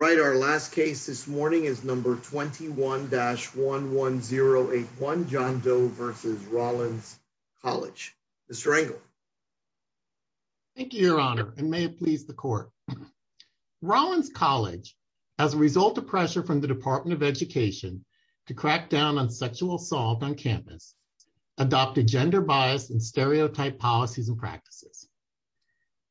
Right, our last case this morning is number 21-11081, John Doe v. Rollins College. Mr. Engel. Thank you, Your Honor, and may it please the Court. Rollins College, as a result of pressure from the Department of Education to crack down on sexual assault on campus, adopted gender-biased and stereotype policies and practices.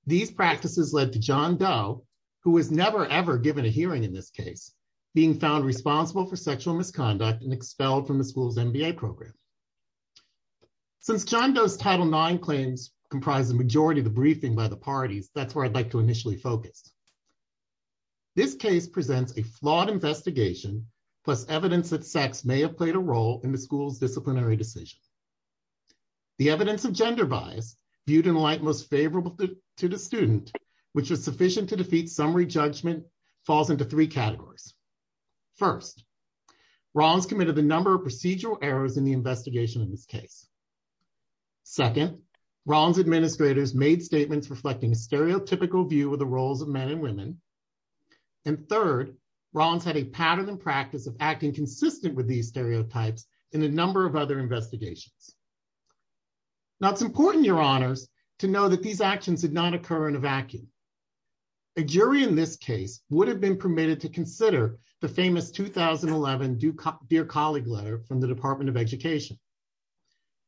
These practices led to John Doe, who was never ever given a hearing in this case, being found responsible for sexual misconduct and expelled from the school's MBA program. Since John Doe's Title IX claims comprise the majority of the briefing by the parties, that's where I'd like to initially focus. This case presents a flawed investigation, plus evidence that sex may have played a role in the school's disciplinary decisions. The evidence of gender bias, viewed in a light most favorable to the student, which was sufficient to defeat summary judgment, falls into three categories. First, Rollins committed a number of procedural errors in the investigation of this case. Second, Rollins administrators made statements reflecting a stereotypical view of the roles of men and women. And third, Rollins had a pattern and practice of acting consistent with these stereotypes in a number of other investigations. Now, it's important, Your Honors, to know that these actions did not occur in a vacuum. A jury in this case would have been permitted to consider the famous 2011 Dear Colleague letter from the Department of Education.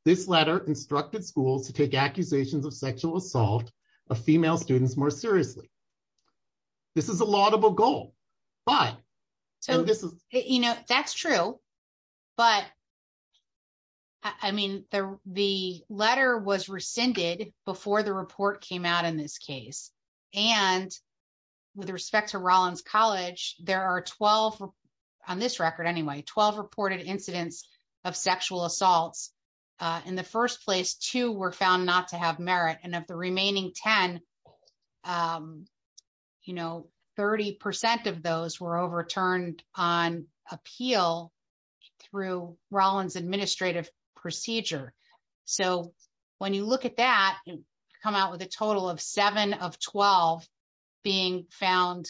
This letter instructed schools to take accusations of sexual assault of female students more seriously. This is a laudable goal, but... You know, that's true. But, I mean, the letter was rescinded before the report came out in this case. And with respect to Rollins College, there are 12, on this record anyway, 12 reported incidents of sexual assaults. In the first place, two were found not to have merit, and of the remaining 10, you know, 30% of those were overturned on appeal through Rollins' administrative procedure. So, when you look at that, you come out with a total of 7 of 12 being found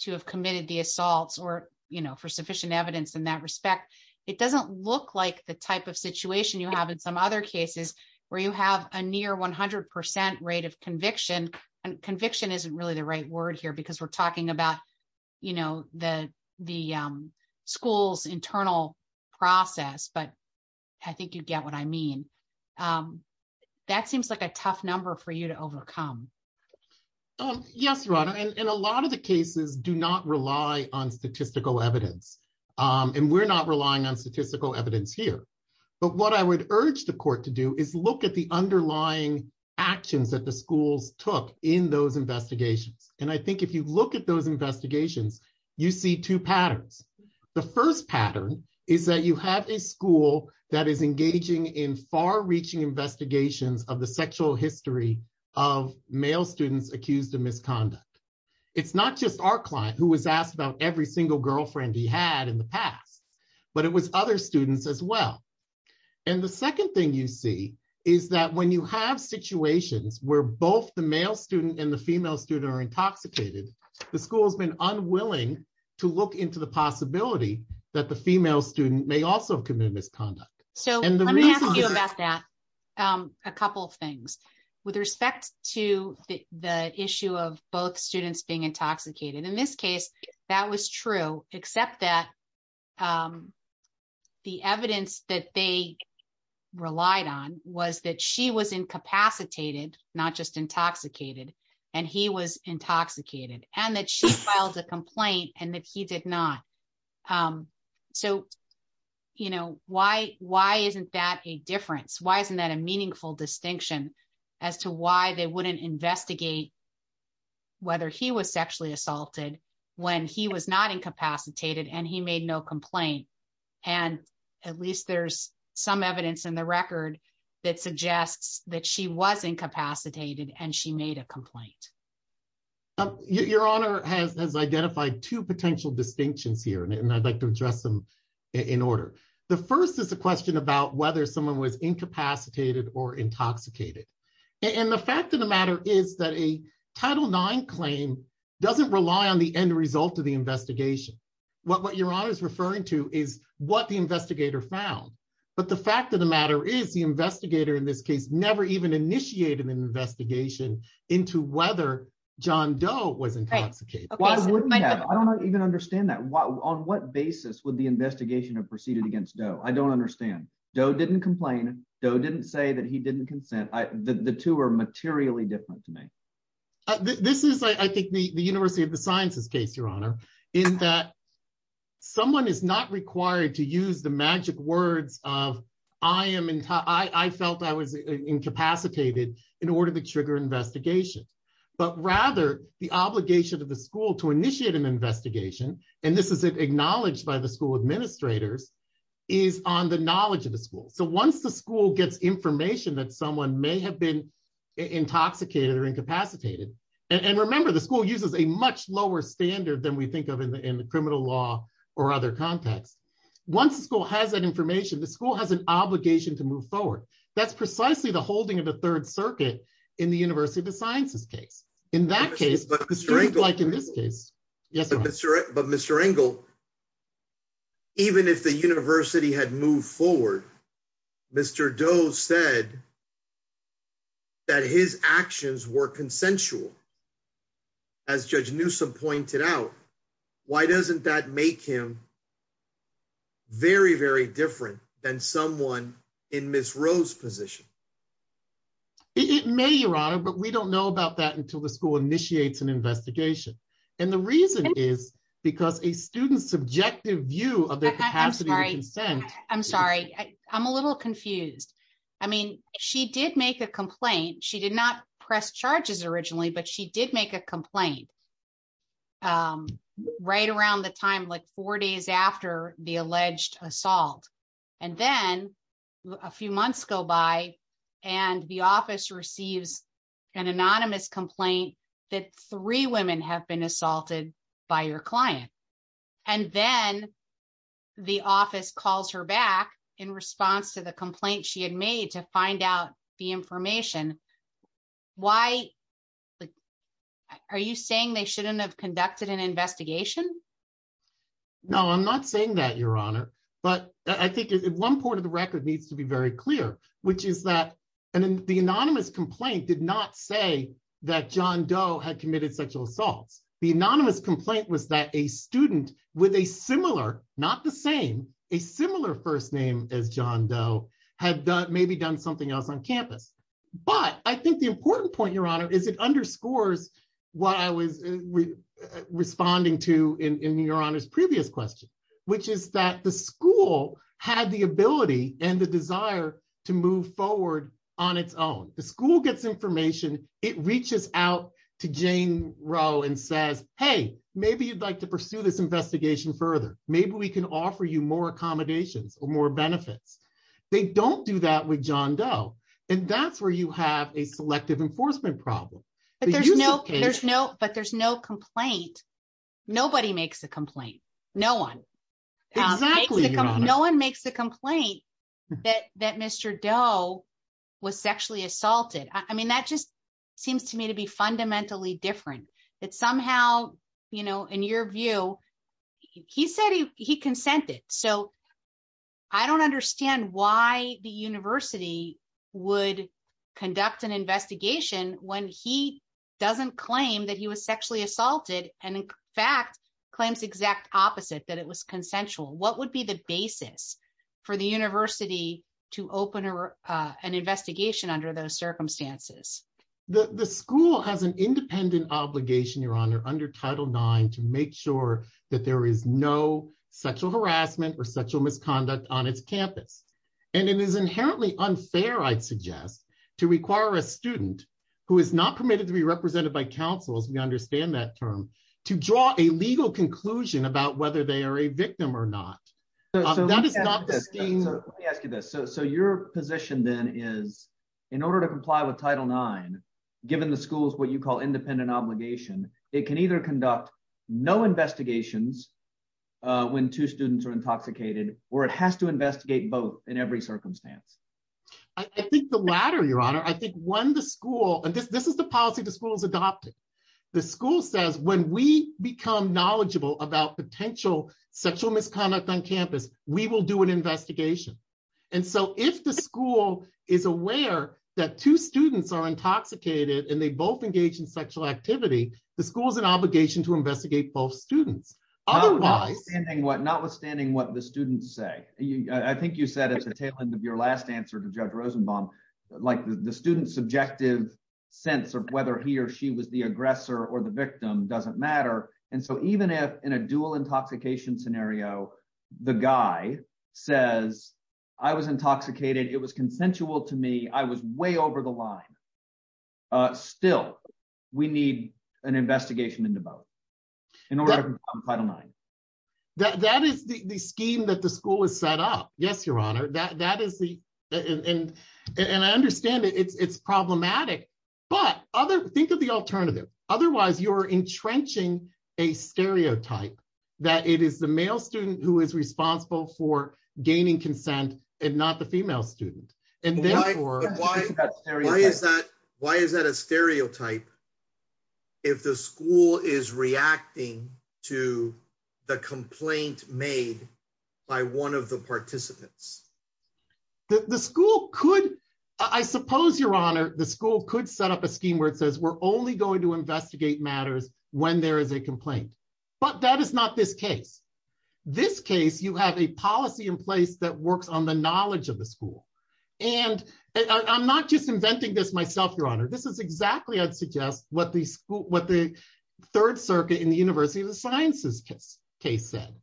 to have committed the assaults or, you know, for sufficient evidence in that respect. It doesn't look like the type of situation you have in some other cases where you have a near 100% rate of conviction. And conviction isn't really the right word here because we're talking about, you know, the school's internal process, but I think you get what I mean. That seems like a tough number for you to overcome. Yes, Rana. And a lot of the cases do not rely on statistical evidence. And we're not relying on statistical evidence here. But what I would urge the court to do is look at the underlying actions that the schools took in those investigations. And I think if you look at those investigations, you see two patterns. The first pattern is that you have a school that is engaging in far-reaching investigations of the sexual history of male students accused of misconduct. It's not just our client who was asked about every single girlfriend he had in the past, but it was other students as well. And the second thing you see is that when you have situations where both the male student and the female student are intoxicated, the school has been unwilling to look into the possibility that the female student may also have committed misconduct. So let me ask you about that. A couple of things. With respect to the issue of both students being intoxicated, in this case, that was true, except that the evidence that they relied on was that she was incapacitated, not just intoxicated, and he was intoxicated, and that she filed a complaint and that he did not. So, you know, why isn't that a difference? Why isn't that a meaningful distinction as to why they wouldn't investigate whether he was sexually assaulted when he was not incapacitated and he made no complaint? And at least there's some evidence in the record that suggests that she was incapacitated and she made a complaint. Your Honor has identified two potential distinctions here, and I'd like to address them in order. The first is a question about whether someone was incapacitated or intoxicated. And the fact of the matter is that a Title IX claim doesn't rely on the end result of the investigation. What Your Honor is referring to is what the investigator found. But the fact of the matter is the investigator in this case never even initiated an investigation into whether John Doe was intoxicated. I don't even understand that. On what basis would the investigation have proceeded against Doe? I don't understand. Doe didn't complain. Doe didn't say that he didn't consent. The two are materially different to me. This is, I think, the University of the Sciences case, Your Honor, in that someone is not required to use the magic words of I felt I was incapacitated in order to trigger investigation. But rather, the obligation of the school to initiate an investigation, and this is acknowledged by the school administrators, is on the knowledge of the school. So once the school gets information that someone may have been intoxicated or incapacitated. And remember, the school uses a much lower standard than we think of in the criminal law or other contexts. Once the school has that information, the school has an obligation to move forward. That's precisely the holding of the Third Circuit in the University of the Sciences case. In that case, like in this case. But Mr. Engel, even if the university had moved forward, Mr. Doe said that his actions were consensual. As Judge Newsome pointed out, why doesn't that make him very, very different than someone in Ms. Rose's position? It may, Your Honor, but we don't know about that until the school initiates an investigation. And the reason is because a student's subjective view of their capacity to consent. I'm sorry. I'm a little confused. I mean, she did make a complaint. She did not press charges originally, but she did make a complaint. Right around the time, like four days after the alleged assault. And then a few months go by and the office receives an anonymous complaint that three women have been assaulted by your client. And then the office calls her back in response to the complaint she had made to find out the information. Why are you saying they shouldn't have conducted an investigation? No, I'm not saying that, Your Honor. But I think one part of the record needs to be very clear, which is that the anonymous complaint did not say that John Doe had committed sexual assaults. The anonymous complaint was that a student with a similar, not the same, a similar first name as John Doe had maybe done something else on campus. But I think the important point, Your Honor, is it underscores what I was responding to in Your Honor's previous question, which is that the school had the ability and the desire to move forward on its own. The school gets information, it reaches out to Jane Roe and says, hey, maybe you'd like to pursue this investigation further. Maybe we can offer you more accommodations or more benefits. They don't do that with John Doe. And that's where you have a selective enforcement problem. But there's no complaint. Exactly, Your Honor. No one makes the complaint that Mr. Doe was sexually assaulted. I mean, that just seems to me to be fundamentally different. That somehow, you know, in your view, he said he consented. So I don't understand why the university would conduct an investigation when he doesn't claim that he was sexually assaulted and, in fact, claims the exact opposite, that it was consensual. What would be the basis for the university to open an investigation under those circumstances? The school has an independent obligation, Your Honor, under Title IX to make sure that there is no sexual harassment or sexual misconduct on its campus. And it is inherently unfair, I'd suggest, to require a student who is not permitted to be represented by counsel, as we understand that term, to draw a legal conclusion about whether they are a victim or not. That is not the scheme. Let me ask you this. So your position, then, is in order to comply with Title IX, given the school's what you call independent obligation, it can either conduct no investigations when two students are intoxicated or it has to investigate both in every circumstance. Your Honor, I think when the school, and this is the policy the school is adopting, the school says when we become knowledgeable about potential sexual misconduct on campus, we will do an investigation. And so if the school is aware that two students are intoxicated and they both engage in sexual activity, the school has an obligation to investigate both students. Notwithstanding what the students say. I think you said at the tail end of your last answer to Judge Rosenbaum, like the student's subjective sense of whether he or she was the aggressor or the victim doesn't matter. And so even if in a dual intoxication scenario, the guy says, I was intoxicated, it was consensual to me, I was way over the line. Still, we need an investigation into both in order to comply with Title IX. That is the scheme that the school has set up. Yes, Your Honor. And I understand it's problematic, but think of the alternative. Otherwise, you're entrenching a stereotype that it is the male student who is responsible for gaining consent and not the female student. Why is that a stereotype if the school is reacting to the complaint made by one of the participants? The school could, I suppose, Your Honor, the school could set up a scheme where it says we're only going to investigate matters when there is a complaint. But that is not this case. This case, you have a policy in place that works on the knowledge of the school. And I'm not just inventing this myself, Your Honor. This is exactly, I'd suggest, what the Third Circuit in the University of the Sciences case said.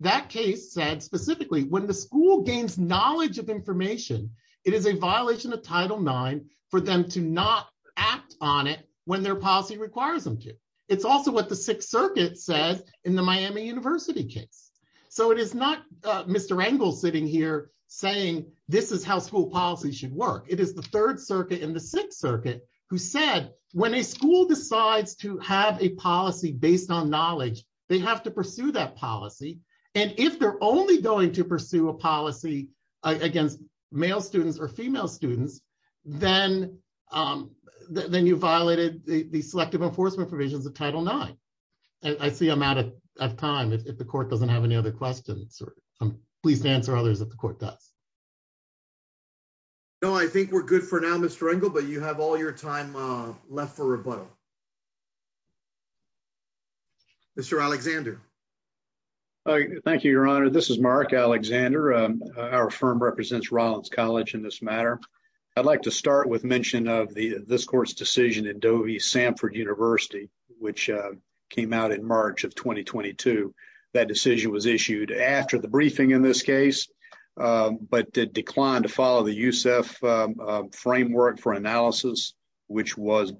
That case said specifically when the school gains knowledge of information, it is a violation of Title IX for them to not act on it when their policy requires them to. It's also what the Sixth Circuit says in the Miami University case. So it is not Mr. Engel sitting here saying this is how school policy should work. It is the Third Circuit and the Sixth Circuit who said when a school decides to have a policy based on knowledge, they have to pursue that policy. And if they're only going to pursue a policy against male students or female students, then you violated the selective enforcement provisions of Title IX. I see I'm out of time. If the court doesn't have any other questions, please answer others if the court does. No, I think we're good for now, Mr. Engel, but you have all your time left for rebuttal. Mr. Alexander. Thank you, Your Honor. This is Mark Alexander. Our firm represents Rollins College in this matter. I'd like to start with mention of this court's decision in Dovey Samford University, which came out in March of 2022. That decision was issued after the briefing in this case, but it declined to follow the USEF framework for analysis, which was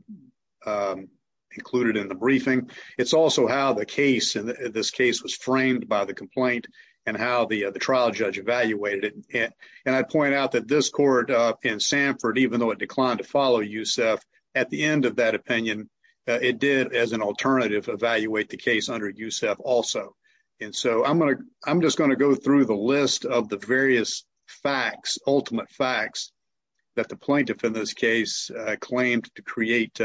included in the briefing. It's also how the case in this case was framed by the complaint and how the trial judge evaluated it. And I point out that this court in Samford, even though it declined to follow USEF, at the end of that opinion, it did, as an alternative, evaluate the case under USEF also. And so I'm just going to go through the list of the various facts, ultimate facts, that the plaintiff in this case claimed to create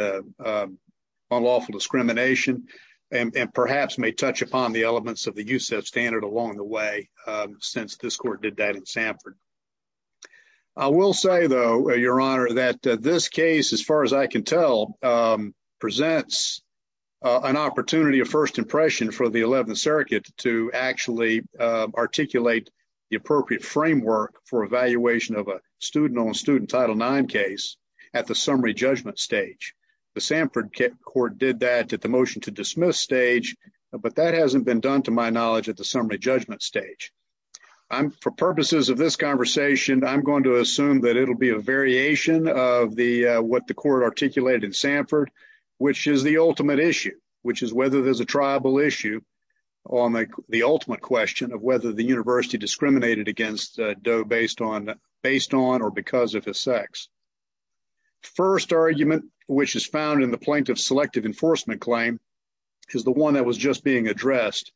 unlawful discrimination and perhaps may touch upon the elements of the USEF standard along the way since this court did that in Samford. I will say, though, Your Honor, that this case, as far as I can tell, presents an opportunity of first impression for the 11th Circuit to actually articulate the appropriate framework for evaluation of a student-on-student Title IX case at the summary judgment stage. The Samford court did that at the motion to dismiss stage, but that hasn't been done, to my knowledge, at the summary judgment stage. For purposes of this conversation, I'm going to assume that it'll be a variation of what the court articulated in Samford, which is the ultimate issue, which is whether there's a triable issue on the ultimate question of whether the university discriminated against Doe based on or because of his sex. First argument, which is found in the plaintiff's selective enforcement claim, is the one that was just being addressed,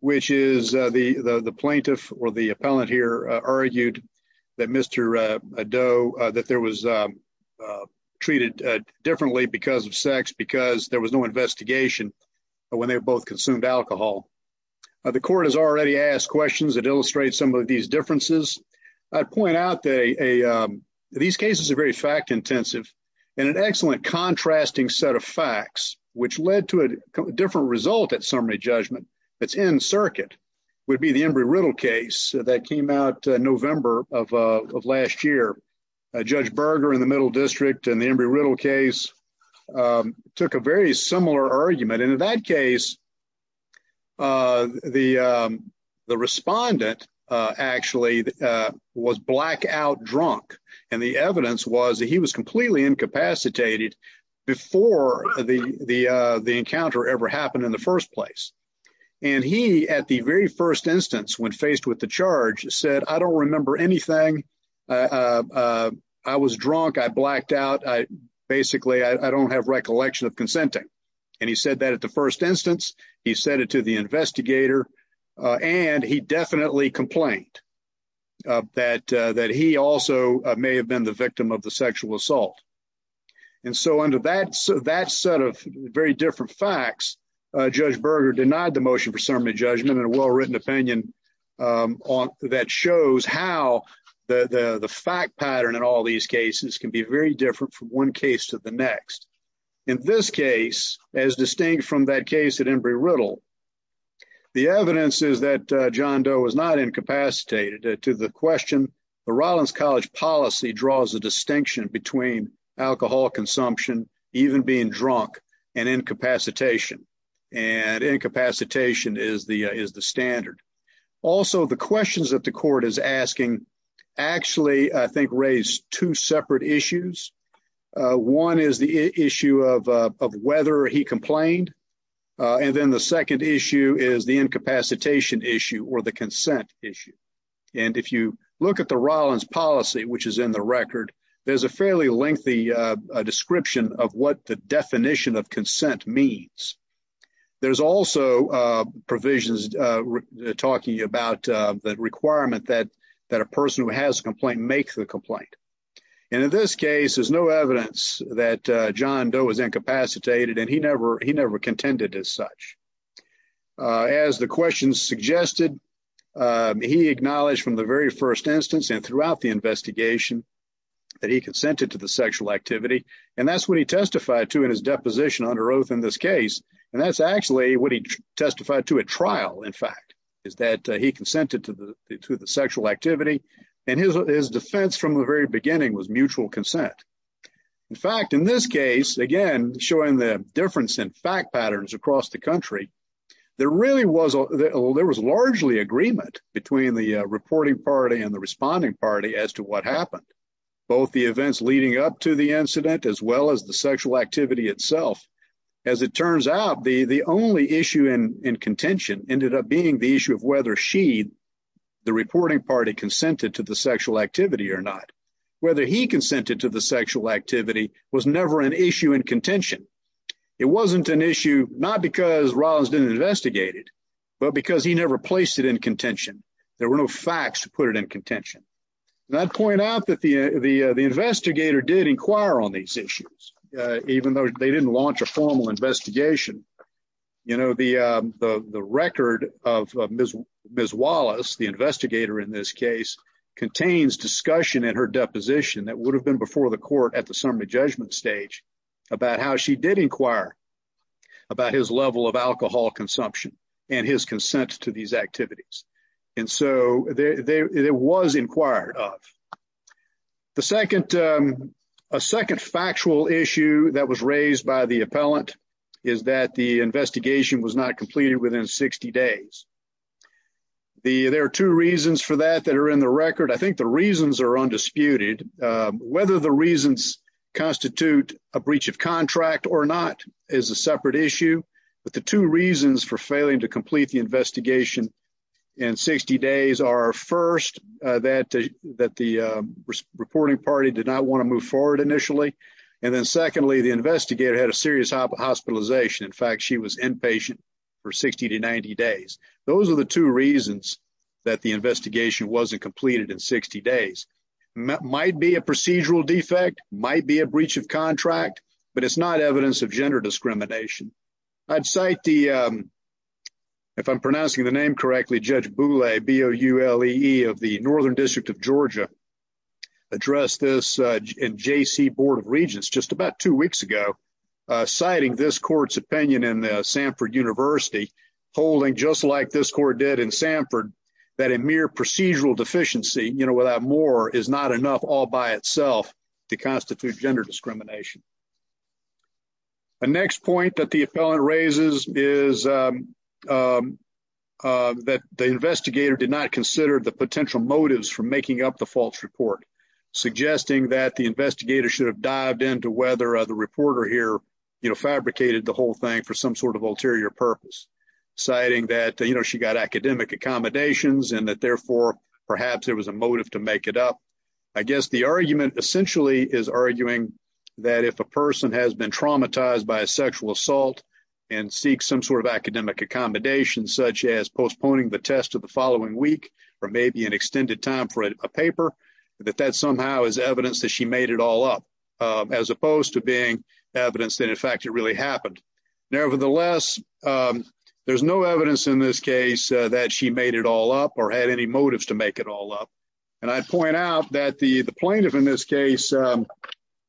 which is the plaintiff or the appellant here argued that Mr. Doe, that there was treated differently because of sex because there was no investigation when they both consumed alcohol. The court has already asked questions that illustrate some of these differences. I'd point out that these cases are very fact-intensive, and an excellent contrasting set of facts, which led to a different result at summary judgment that's in circuit, would be the Embry-Riddle case that came out November of last year. Judge Berger in the Middle District in the Embry-Riddle case took a very similar argument, and in that case, the respondent actually was blackout drunk, and the evidence was that he was completely incapacitated before the encounter ever happened in the first place. He, at the very first instance when faced with the charge, said, I don't remember anything. I was drunk. I blacked out. Basically, I don't have recollection of consenting. He said that at the first instance. He said it to the investigator, and he definitely complained that he also may have been the victim of the sexual assault. Under that set of very different facts, Judge Berger denied the motion for summary judgment in a well-written opinion that shows how the fact pattern in all these cases can be very different from one case to the next. In this case, as distinct from that case at Embry-Riddle, the evidence is that John Doe was not incapacitated. To the question, the Rollins College policy draws a distinction between alcohol consumption, even being drunk, and incapacitation, and incapacitation is the standard. Also, the questions that the court is asking actually, I think, raise two separate issues. One is the issue of whether he complained, and then the second issue is the incapacitation issue or the consent issue. If you look at the Rollins policy, which is in the record, there's a fairly lengthy description of what the definition of consent means. There's also provisions talking about the requirement that a person who has a complaint make the complaint. In this case, there's no evidence that John Doe was incapacitated, and he never contended as such. As the questions suggested, he acknowledged from the very first instance and throughout the investigation that he consented to the sexual activity, and that's what he testified to in his deposition under oath in this case. And that's actually what he testified to at trial, in fact, is that he consented to the sexual activity, and his defense from the very beginning was mutual consent. In fact, in this case, again, showing the difference in fact patterns across the country, there was largely agreement between the reporting party and the responding party as to what happened, both the events leading up to the incident as well as the sexual activity itself. As it turns out, the only issue in contention ended up being the issue of whether she, the reporting party, consented to the sexual activity or not. Whether he consented to the sexual activity was never an issue in contention. It wasn't an issue, not because Rollins didn't investigate it, but because he never placed it in contention. There were no facts to put it in contention. And I'd point out that the investigator did inquire on these issues, even though they didn't launch a formal investigation. You know, the record of Ms. Wallace, the investigator in this case, contains discussion in her deposition that would have been before the court at the summary judgment stage about how she did inquire about his level of alcohol consumption and his consent to these activities. And so, it was inquired of. A second factual issue that was raised by the appellant is that the investigation was not completed within 60 days. There are two reasons for that that are in the record. I think the reasons are undisputed. Whether the reasons constitute a breach of contract or not is a separate issue. But the two reasons for failing to complete the investigation in 60 days are first, that the reporting party did not want to move forward initially. And then secondly, the investigator had a serious hospitalization. In fact, she was inpatient for 60 to 90 days. Those are the two reasons that the investigation wasn't completed in 60 days. Might be a procedural defect, might be a breach of contract, but it's not evidence of gender discrimination. I'd cite the, if I'm pronouncing the name correctly, Judge Bule, B-U-L-E-E of the Northern District of Georgia, addressed this in J.C. Board of Regents just about two weeks ago, citing this court's opinion in Samford University, holding just like this court did in Samford, that a mere procedural deficiency, you know, without more, is not enough all by itself to constitute gender discrimination. A next point that the appellant raises is that the investigator did not consider the potential motives for making up the false report, suggesting that the investigator should have dived into whether the reporter here, you know, fabricated the whole thing for some sort of ulterior purpose, citing that, you know, she got academic accommodations and that therefore, perhaps there was a motive to make it up. I guess the argument essentially is arguing that if a person has been traumatized by a sexual assault and seeks some sort of academic accommodations, such as postponing the test of the following week or maybe an extended time for a paper, that that somehow is evidence that she made it all up, as opposed to being evidence that in fact it really happened. Nevertheless, there's no evidence in this case that she made it all up or had any motives to make it all up. And I'd point out that the plaintiff in this case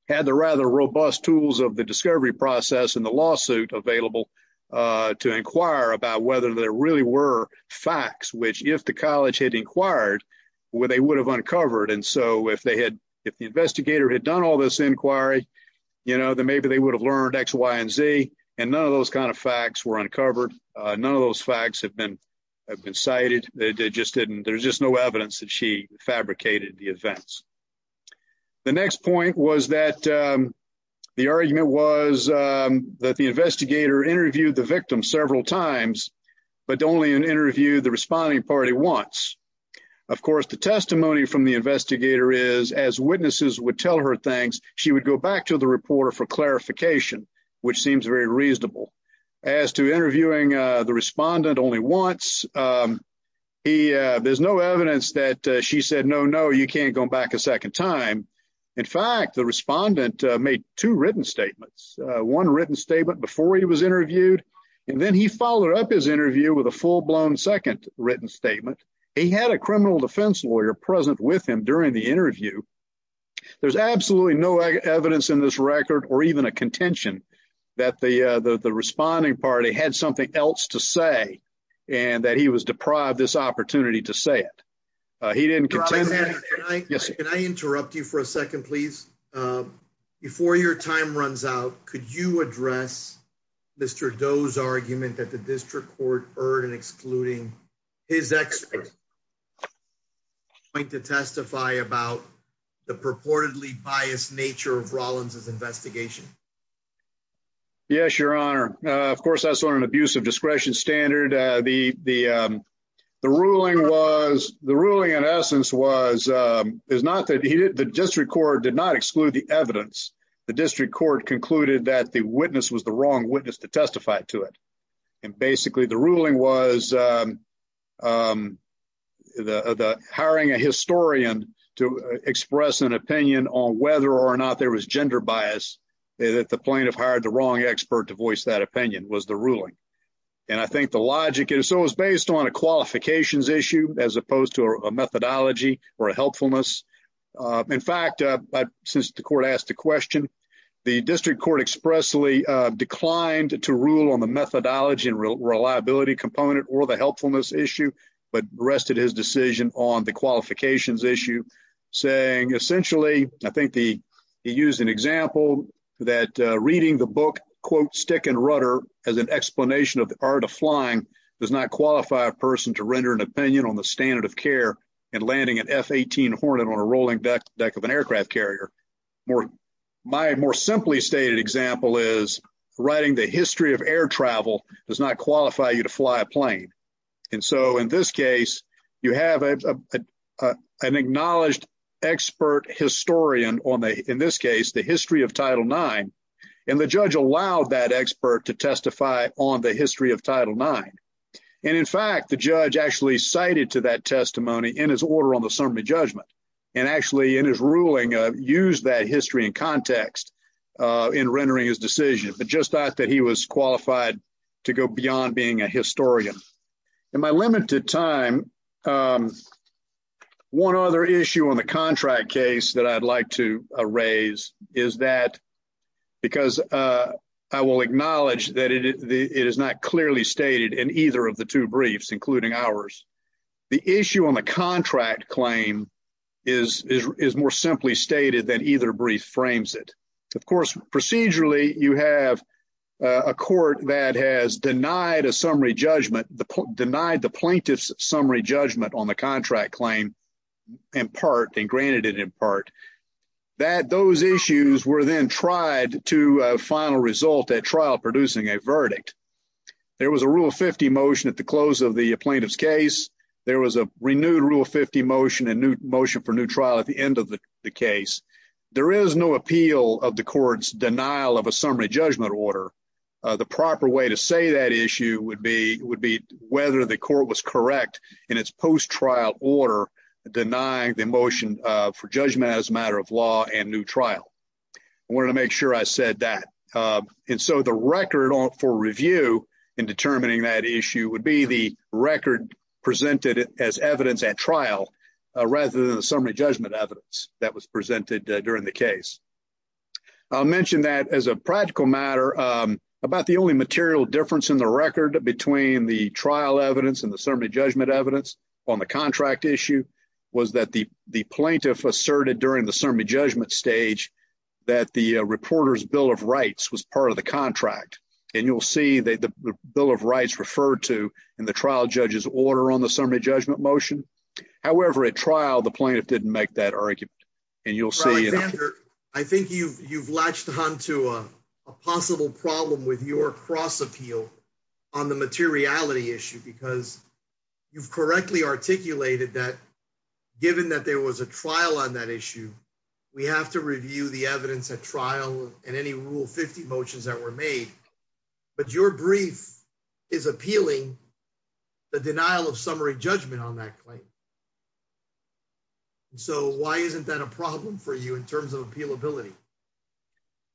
had the rather robust tools of the discovery process and the lawsuit available to inquire about whether there really were facts, which if the college had inquired, they would have uncovered. And so if they had, if the investigator had done all this inquiry, you know, then maybe they would have learned X, Y, and Z, and none of those kind of facts were uncovered. None of those facts have been cited. They just didn't, there's just no evidence that she fabricated the events. The next point was that the argument was that the investigator interviewed the victim several times, but only interviewed the responding party once. Of course, the testimony from the investigator is, as witnesses would tell her things, she would go back to the reporter for clarification, which seems very reasonable. As to interviewing the respondent only once, there's no evidence that she said, no, no, you can't go back a second time. In fact, the respondent made two written statements, one written statement before he was interviewed, and then he followed up his interview with a full-blown second written statement. He had a criminal defense lawyer present with him during the interview. There's absolutely no evidence in this record, or even a contention, that the responding party had something else to say, and that he was deprived this opportunity to say it. Mr. Alexander, can I interrupt you for a second, please? Before your time runs out, could you address Mr. Doe's argument that the district court erred in excluding his experts? I'd like to testify about the purportedly biased nature of Rollins' investigation. Yes, Your Honor. Of course, that's on an abuse of discretion standard. The ruling, in essence, was that the district court did not exclude the evidence. The district court concluded that the witness was the wrong witness to testify to it. Basically, the ruling was hiring a historian to express an opinion on whether or not there was gender bias, that the plaintiff hired the wrong expert to voice that opinion, was the ruling. I think the logic is it was based on a qualifications issue as opposed to a methodology or a helpfulness. In fact, since the court asked the question, the district court expressly declined to rule on the methodology and reliability component or the helpfulness issue, but rested his decision on the qualifications issue. Essentially, I think he used an example that reading the book, quote, Stick and Rudder, as an explanation of the art of flying does not qualify a person to render an opinion on the standard of care and landing an F-18 Hornet on a rolling deck of an aircraft carrier. My more simply stated example is writing the history of air travel does not qualify you to fly a plane. In this case, you have an acknowledged expert historian, in this case, the history of Title IX, and the judge allowed that expert to testify on the history of Title IX. In fact, the judge actually cited to that testimony in his order on the summary judgment and actually in his ruling used that history and context in rendering his decision. But just thought that he was qualified to go beyond being a historian. In my limited time, one other issue on the contract case that I'd like to raise is that because I will acknowledge that it is not clearly stated in either of the two briefs, including ours. The issue on the contract claim is more simply stated than either brief frames it. Of course, procedurally, you have a court that has denied a summary judgment, denied the plaintiff's summary judgment on the contract claim in part and granted it in part. That those issues were then tried to final result at trial producing a verdict. There was a Rule 50 motion at the close of the plaintiff's case. There was a renewed Rule 50 motion and new motion for new trial at the end of the case. There is no appeal of the court's denial of a summary judgment order. The proper way to say that issue would be whether the court was correct in its post-trial order denying the motion for judgment as a matter of law and new trial. I wanted to make sure I said that. The record for review in determining that issue would be the record presented as evidence at trial rather than the summary judgment evidence that was presented during the case. I'll mention that as a practical matter, about the only material difference in the record between the trial evidence and the summary judgment evidence on the contract issue was that the plaintiff asserted during the summary judgment stage that the reporter's Bill of Rights was part of the contract. And you'll see the Bill of Rights referred to in the trial judge's order on the summary judgment motion. However, at trial, the plaintiff didn't make that argument. I think you've latched on to a possible problem with your cross-appeal on the materiality issue because you've correctly articulated that given that there was a trial on that issue, we have to review the evidence at trial and any Rule 50 motions that were made. But your brief is appealing the denial of summary judgment on that claim. So why isn't that a problem for you in terms of appealability?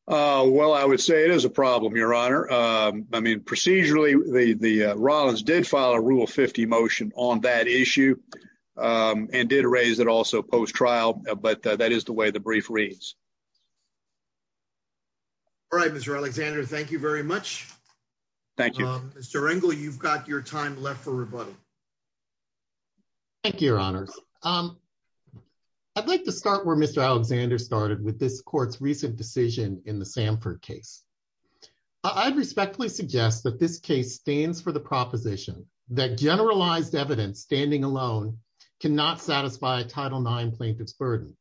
Well, I would say it is a problem, Your Honor. I mean, procedurally, the Rollins did file a Rule 50 motion on that issue and did raise it also post-trial, but that is the way the brief reads. All right, Mr. Alexander, thank you very much. Thank you. Mr. Engle, you've got your time left for rebuttal. Thank you, Your Honors. I'd like to start where Mr. Alexander started with this court's recent decision in the Samford case. I'd respectfully suggest that this case stands for the proposition that generalized evidence standing alone cannot satisfy a Title IX plaintiff's burden.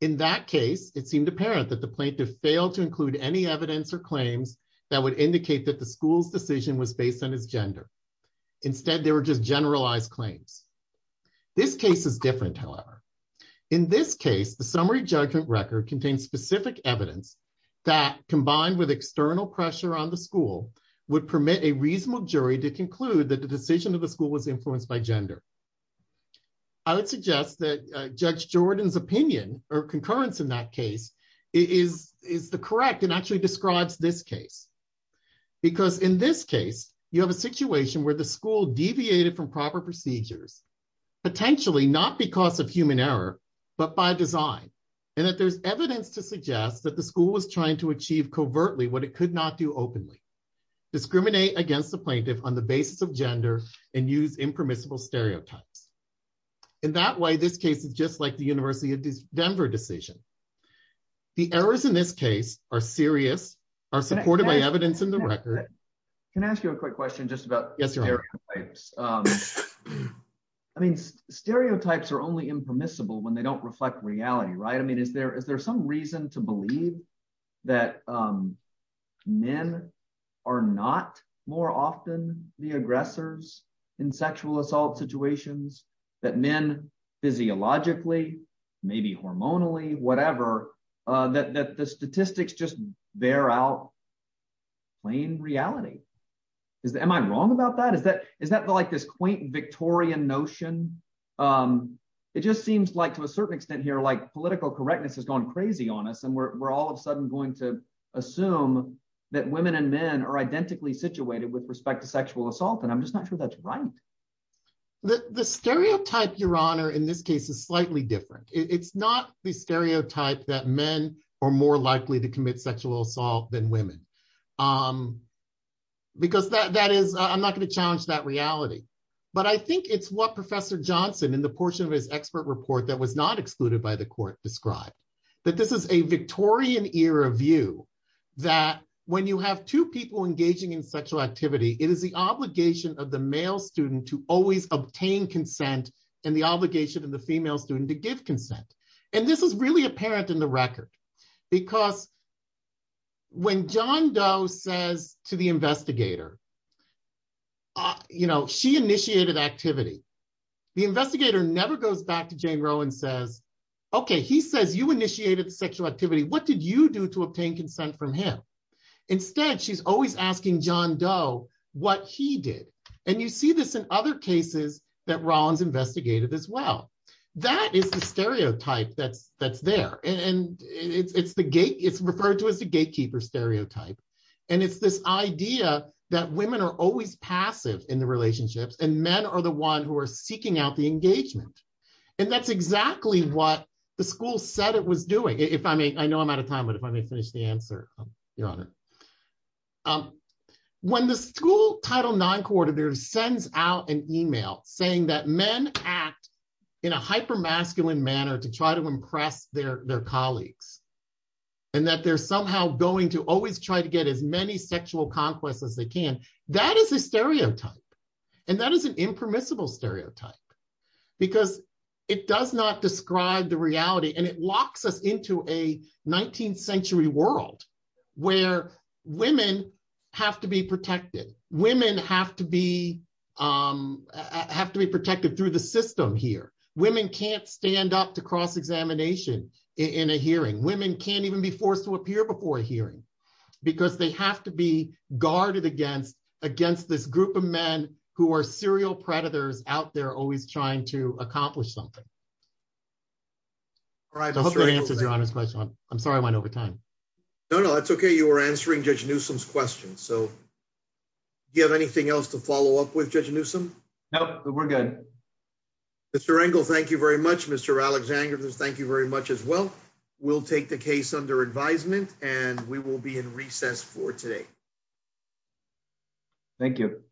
In that case, it seemed apparent that the plaintiff failed to include any evidence or claims that would indicate that the school's decision was based on his gender. Instead, there were just generalized claims. This case is different, however. In this case, the summary judgment record contains specific evidence that, combined with external pressure on the school, would permit a reasonable jury to conclude that the decision of the school was influenced by gender. I would suggest that Judge Jordan's opinion or concurrence in that case is the correct and actually describes this case. Because in this case, you have a situation where the school deviated from proper procedures, potentially not because of human error, but by design, and that there's evidence to suggest that the school was trying to achieve covertly what it could not do openly, discriminate against the plaintiff on the basis of gender, and use impermissible stereotypes. In that way, this case is just like the University of Denver decision. The errors in this case are serious, are supported by evidence in the record. Can I ask you a quick question just about stereotypes? I mean, stereotypes are only impermissible when they don't reflect reality, right? I mean, is there some reason to believe that men are not more often the aggressors in sexual assault situations, that men physiologically, maybe hormonally, whatever, that the statistics just bear out plain reality? Am I wrong about that? Is that like this quaint Victorian notion? It just seems like to a certain extent here, like political correctness has gone crazy on us, and we're all of a sudden going to assume that women and men are identically situated with respect to sexual assault, and I'm just not sure that's right. The stereotype, Your Honor, in this case is slightly different. It's not the stereotype that men are more likely to commit sexual assault than women. Because that is, I'm not going to challenge that reality. But I think it's what Professor Johnson, in the portion of his expert report that was not excluded by the court, described. That this is a Victorian era view, that when you have two people engaging in sexual activity, it is the obligation of the male student to always obtain consent, and the obligation of the female student to give consent. And this is really apparent in the record, because when John Doe says to the investigator, you know, she initiated activity. The investigator never goes back to Jane Roe and says, okay, he says you initiated the sexual activity. What did you do to obtain consent from him? Instead, she's always asking John Doe what he did. And you see this in other cases that Rollins investigated as well. That is the stereotype that's there. And it's referred to as the gatekeeper stereotype. And it's this idea that women are always passive in the relationships, and men are the ones who are seeking out the engagement. And that's exactly what the school said it was doing. I know I'm out of time, but if I may finish the answer, Your Honor. When the school Title IX coordinator sends out an email saying that men act in a hyper-masculine manner to try to impress their colleagues, and that they're somehow going to always try to get as many sexual conquests as they can, that is a stereotype. And that is an impermissible stereotype, because it does not describe the reality, and it locks us into a 19th century world where women have to be protected. Women have to be protected through the system here. Women can't stand up to cross-examination in a hearing. Women can't even be forced to appear before a hearing, because they have to be guarded against this group of men who are serial predators out there always trying to accomplish something. I hope that answers Your Honor's question. I'm sorry I went over time. No, no, that's okay. You were answering Judge Newsom's question. Do you have anything else to follow up with, Judge Newsom? No, we're good. Mr. Engel, thank you very much. Mr. Alexander, thank you very much as well. We will take the case under advisement, and we will be in recess for today. Thank you.